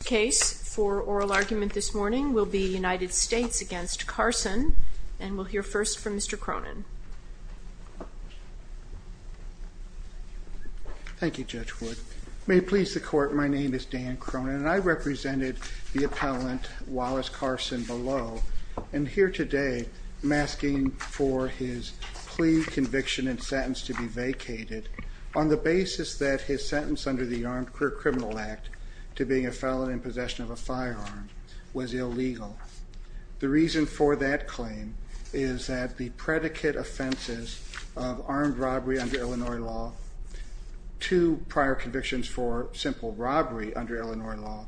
The case for oral argument this morning will be United States v. Carson, and we'll hear first from Mr. Cronin. Thank you, Judge Wood. May it please the Court, my name is Dan Cronin, and I represented the appellant, Wallace Carson, below, and here today, I'm asking for his plea conviction and sentence to be vacated on the basis that his sentence under the Armed Career Criminal Act to being a felon in possession of a firearm was illegal. The reason for that claim is that the predicate offenses of armed robbery under Illinois law, two prior convictions for simple robbery under Illinois law,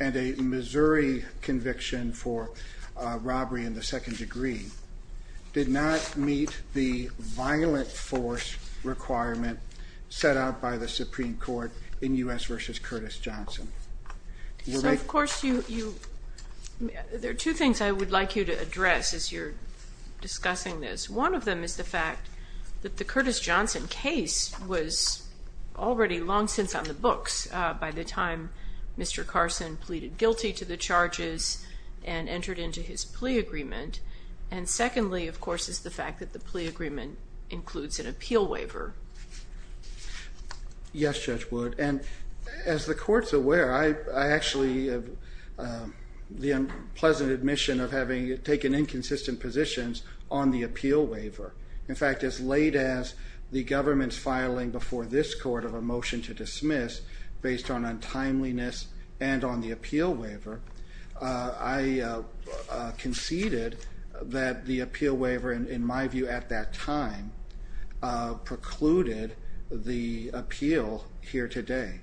and a Missouri conviction for So of course, there are two things I would like you to address as you're discussing this. One of them is the fact that the Curtis Johnson case was already long since on the books by the time Mr. Carson pleaded guilty to the charges and entered into his plea agreement, and secondly, of course, is the fact that the plea agreement includes an appeal waiver. Yes, Judge Wood, and as the Court's aware, I actually have the unpleasant admission of having taken inconsistent positions on the appeal waiver. In fact, as late as the government's filing before this Court of a motion to dismiss based on untimeliness and on the appeal waiver, I conceded that the appeal waiver, in my view at that time, precluded the appeal here today.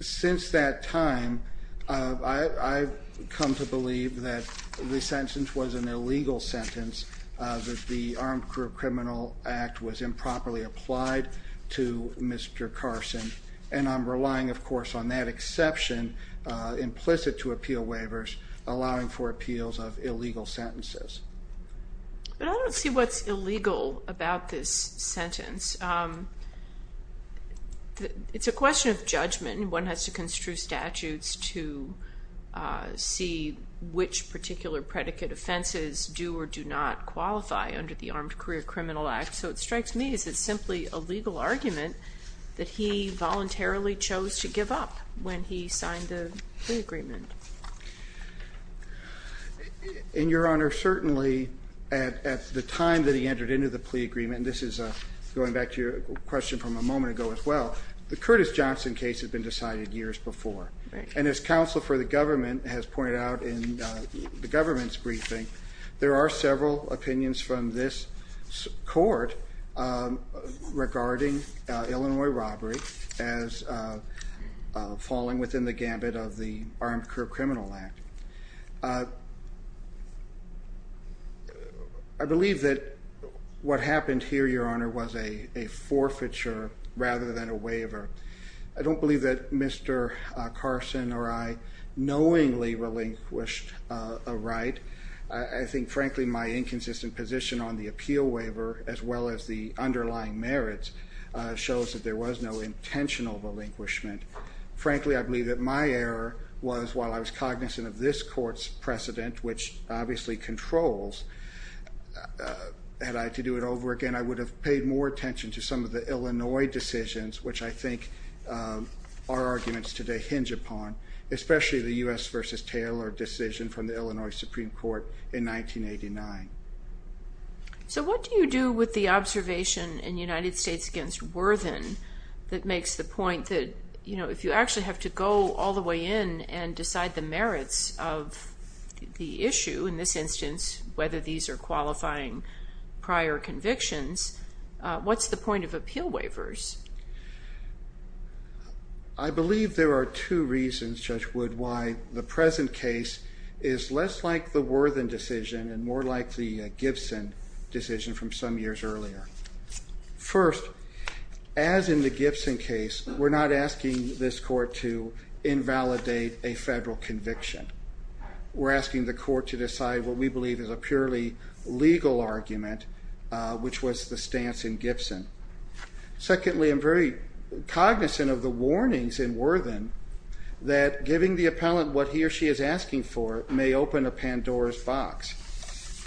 Since that time, I've come to believe that the sentence was an illegal sentence, that the Armed Career Criminal Act was improperly applied to Mr. Carson, and I'm relying, of course, on that exception implicit to appeal waivers allowing for appeals of illegal sentences. But I don't see what's illegal about this sentence. It's a question of judgment. One has to construe statutes to see which particular predicate offenses do or do not qualify under the Armed Career Criminal Act, so it strikes me as it's simply a legal argument that he voluntarily chose to give up when he signed the plea agreement. And, Your Honor, certainly at the time that he entered into the plea agreement, and this is going back to your question from a moment ago as well, the Curtis Johnson case had been decided years before, and as counsel for the government has pointed out in the government's briefing, there are several opinions from this Court regarding Illinois robbery as falling within the gambit of the Armed Career Criminal Act. I believe that what happened here, Your Honor, was a forfeiture rather than a waiver. I don't believe that Mr. Carson or I knowingly relinquished a right. I think, frankly, my inconsistent position on the appeal waiver as well as the underlying merits shows that there was no intentional relinquishment. Frankly, I believe that my error was, while I was cognizant of this Court's precedent, which obviously controls, had I had to do it over again, I would have paid more attention to some of the Illinois decisions, which I think our arguments today hinge upon, especially the U.S. v. Taylor decision from the Illinois Supreme Court in 1989. So what do you do with the observation in United States v. Worthen that makes the point that, you know, if you actually have to go all the way in and decide the merits of the issue, in this instance, whether these are qualifying prior convictions, what's the point of appeal waivers? I believe there are two reasons, Judge Wood, why the present case is less like the Worthen decision and more like the Gibson decision from some years earlier. First, as in the Gibson case, we're not asking this Court to invalidate a federal conviction. We're asking the Court to decide what we believe is a purely legal argument, which was the stance in Gibson. Secondly, I'm very cognizant of the warnings in Worthen that giving the appellant what he or she is asking for may open a Pandora's box.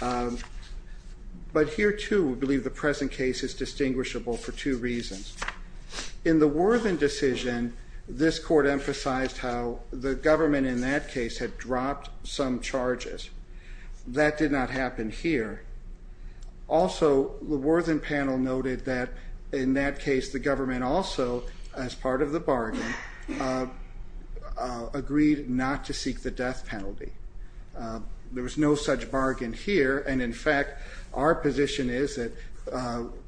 But here, too, we believe the present case is distinguishable for two reasons. In the Worthen decision, this Court emphasized how the government in that case had dropped some charges. That did not happen here. Also, the Worthen panel noted that, in that case, the government also, as part of the bargain, agreed not to seek the death penalty. There was no such bargain here, and, in fact, our position is that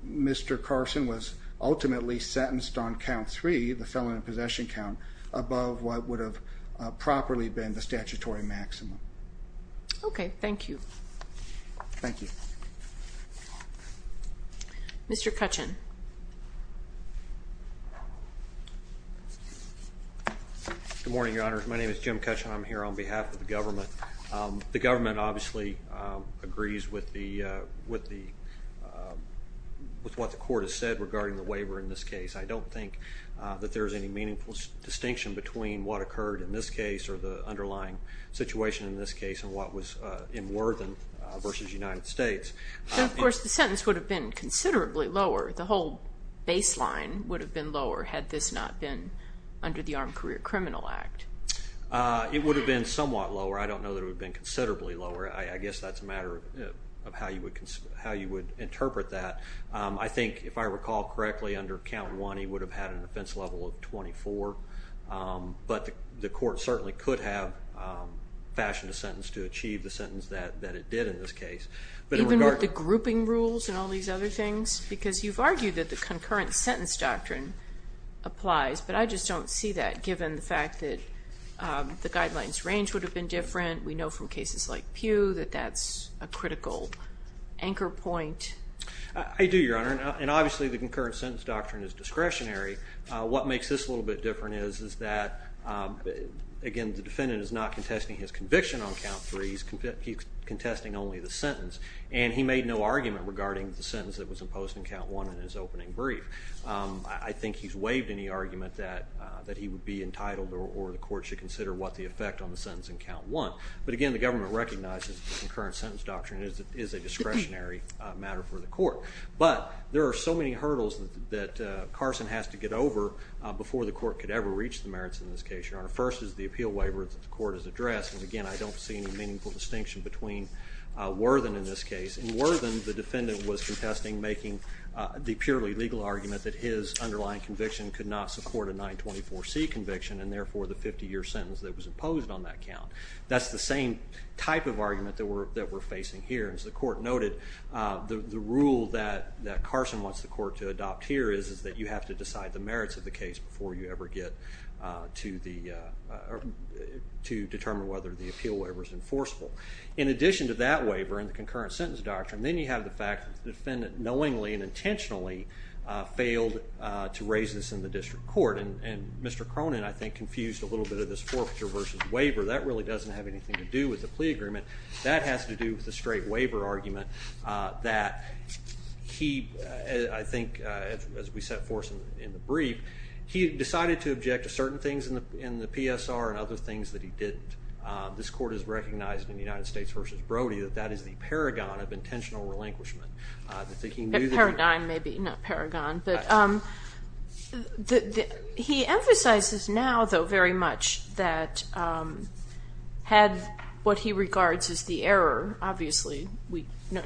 Mr. Carson was ultimately sentenced on count three, the felon in possession count, above what would have properly been the statutory maximum. Okay, thank you. Thank you. Mr. Kutchin. Good morning, Your Honors. My name is Jim Kutchin. I'm here on behalf of the government. The government obviously agrees with what the Court has said regarding the waiver in this case. I don't think that there's any meaningful distinction between what occurred in this case or the underlying situation in this case and what was in Worthen versus United States. Of course, the sentence would have been considerably lower. The whole baseline would have been lower had this not been under the Armed Career Criminal Act. It would have been somewhat lower. I don't know that it would have been considerably lower. I guess that's a matter of how you would interpret that. I think, if I recall correctly, under count one, he would have had an offense level of 24, but the Court certainly could have fashioned a sentence to achieve the sentence that it did in this case. Even with the grouping rules and all these other things? Because you've argued that the concurrent sentence doctrine applies, but I just don't see that given the fact that the guidelines range would have been different. We know from cases like Pew that that's a critical anchor point. I do, Your Honor, and obviously the concurrent sentence doctrine is discretionary. What makes this a little bit different is that, again, the defendant is not contesting his conviction on count three. He's contesting only the sentence, and he made no argument regarding the sentence that was imposed in count one in his opening brief. I think he's waived any argument that he would be entitled or the Court should consider what the effect on the sentence in count one. But, again, the government recognizes the concurrent sentence doctrine is a discretionary matter for the Court. But there are so many hurdles that Carson has to get over before the Court could ever reach the merits in this case, Your Honor. First is the appeal waiver that the Court has addressed, and, again, I don't see any meaningful distinction between Worthen in this case. In Worthen, the defendant was contesting making the purely legal argument that his underlying conviction could not support a 924C conviction and, therefore, the 50-year sentence that was imposed on that count. That's the same type of argument that we're facing here. As the Court noted, the rule that Carson wants the Court to adopt here is that you have to decide the merits of the case before you ever get to determine whether the appeal waiver is enforceable. In addition to that waiver and the concurrent sentence doctrine, then you have the fact that the defendant knowingly and intentionally failed to raise this in the district court. And Mr. Cronin, I think, confused a little bit of this forfeiture versus waiver. That really doesn't have anything to do with the plea agreement. That has to do with the straight waiver argument that he, I think, as we set forth in the brief, he decided to object to certain things in the PSR and other things that he didn't. This Court has recognized in the United States v. Brody that that is the paragon of intentional relinquishment. A paradigm, maybe, not paragon. He emphasizes now, though, very much that had what he regards as the error, obviously,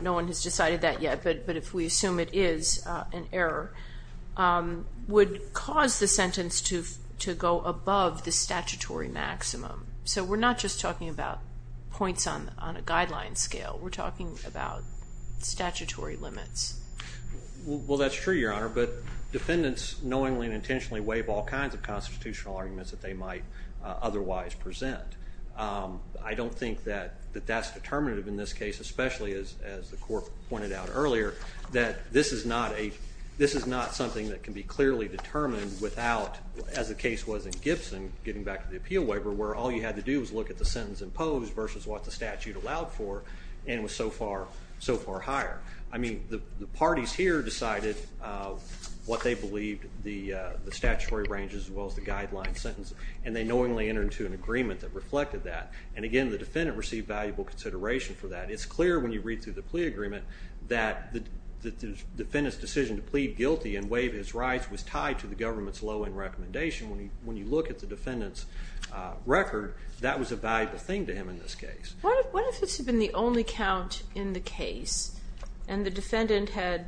no one has decided that yet, but if we assume it is an error, would cause the sentence to go above the statutory maximum. So we're not just talking about points on a guideline scale. We're talking about statutory limits. Well, that's true, Your Honor. But defendants knowingly and intentionally waive all kinds of constitutional arguments that they might otherwise present. I don't think that that's determinative in this case, especially as the Court pointed out earlier, that this is not something that can be clearly determined without, as the case was in Gibson, getting back to the appeal waiver where all you had to do was look at the sentence imposed versus what the statute allowed for. And it was so far higher. I mean, the parties here decided what they believed, the statutory range as well as the guideline sentence, and they knowingly entered into an agreement that reflected that. And again, the defendant received valuable consideration for that. It's clear when you read through the plea agreement that the defendant's decision to plead guilty and waive his rights was tied to the government's low-end recommendation. When you look at the defendant's record, that was a valuable thing to him in this case. What if this had been the only count in the case, and the defendant had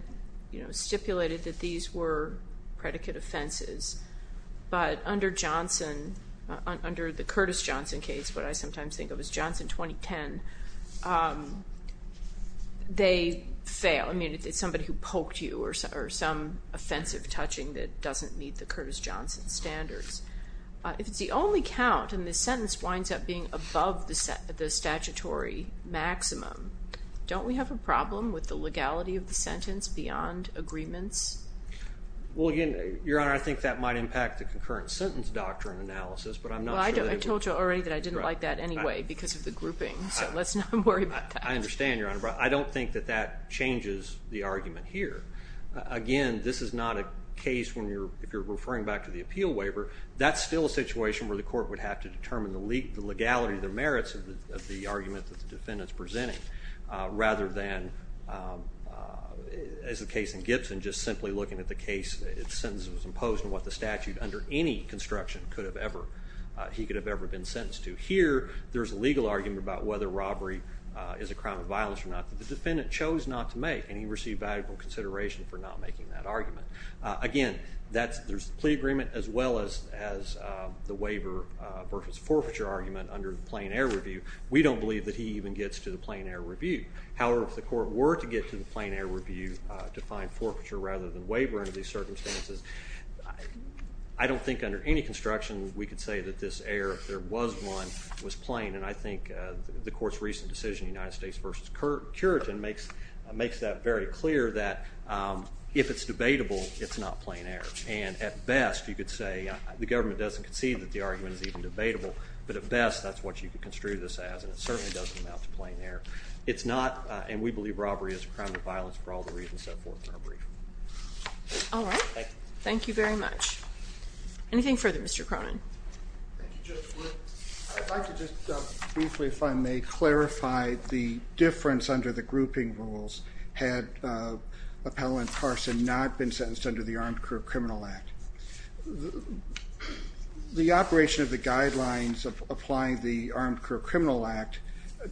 stipulated that these were predicate offenses, but under the Curtis Johnson case, what I sometimes think of as Johnson 2010, they fail. I mean, it's somebody who poked you or some offensive touching that doesn't meet the Curtis Johnson standards. If it's the only count and the sentence winds up being above the statutory maximum, don't we have a problem with the legality of the sentence beyond agreements? Well, again, Your Honor, I think that might impact the concurrent sentence doctrine analysis, but I'm not sure that it would. Well, I told you already that I didn't like that anyway because of the grouping, so let's not worry about that. I understand, Your Honor, but I don't think that that changes the argument here. Again, this is not a case where, if you're referring back to the appeal waiver, that's still a situation where the court would have to determine the legality, the merits of the argument that the defendant's presenting, rather than, as the case in Gibson, just simply looking at the case, its sentence was imposed on what the statute under any construction could have ever, he could have ever been sentenced to. Here, there's a legal argument about whether robbery is a crime of violence or not. The defendant chose not to make, and he received valuable consideration for not making that argument. Again, there's the plea agreement as well as the waiver versus forfeiture argument under the plain air review. We don't believe that he even gets to the plain air review. However, if the court were to get to the plain air review to find forfeiture rather than waiver under these circumstances, I don't think under any construction we could say that this air, if there was one, was plain, and I think the court's recent decision, United States versus Curitin, makes that very clear that if it's debatable, it's not plain air, and at best you could say the government doesn't concede that the argument is even debatable, but at best that's what you could construe this as, and it certainly doesn't amount to plain air. It's not, and we believe robbery is a crime of violence for all the reasons set forth in our brief. All right. Thank you. Thank you very much. Anything further, Mr. Cronin? Thank you, Judge Wood. I'd like to just briefly if I may clarify the difference under the grouping rules had Appellant Carson not been sentenced under the Armed Career Criminal Act. The operation of the guidelines of applying the Armed Career Criminal Act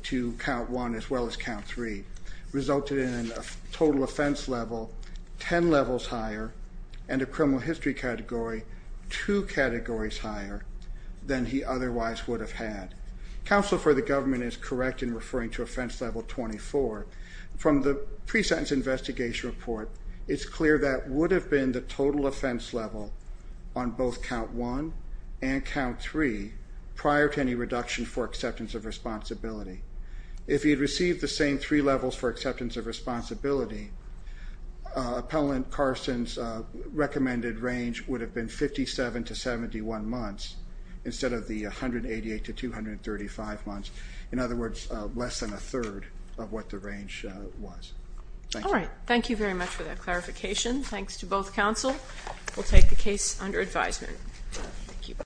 to Count 1 as well as Count 3 resulted in a total offense level 10 levels higher and a criminal history category 2 categories higher than he otherwise would have had. Counsel for the government is correct in referring to offense level 24. From the pre-sentence investigation report, it's clear that would have been the total offense level on both Count 1 and Count 3 prior to any reduction for acceptance of responsibility. If he had received the same three levels for acceptance of responsibility, Appellant Carson's recommended range would have been 57 to 71 months instead of the 188 to 235 months. In other words, less than a third of what the range was. All right. Thank you very much for that clarification. Thanks to both counsel. Thank you.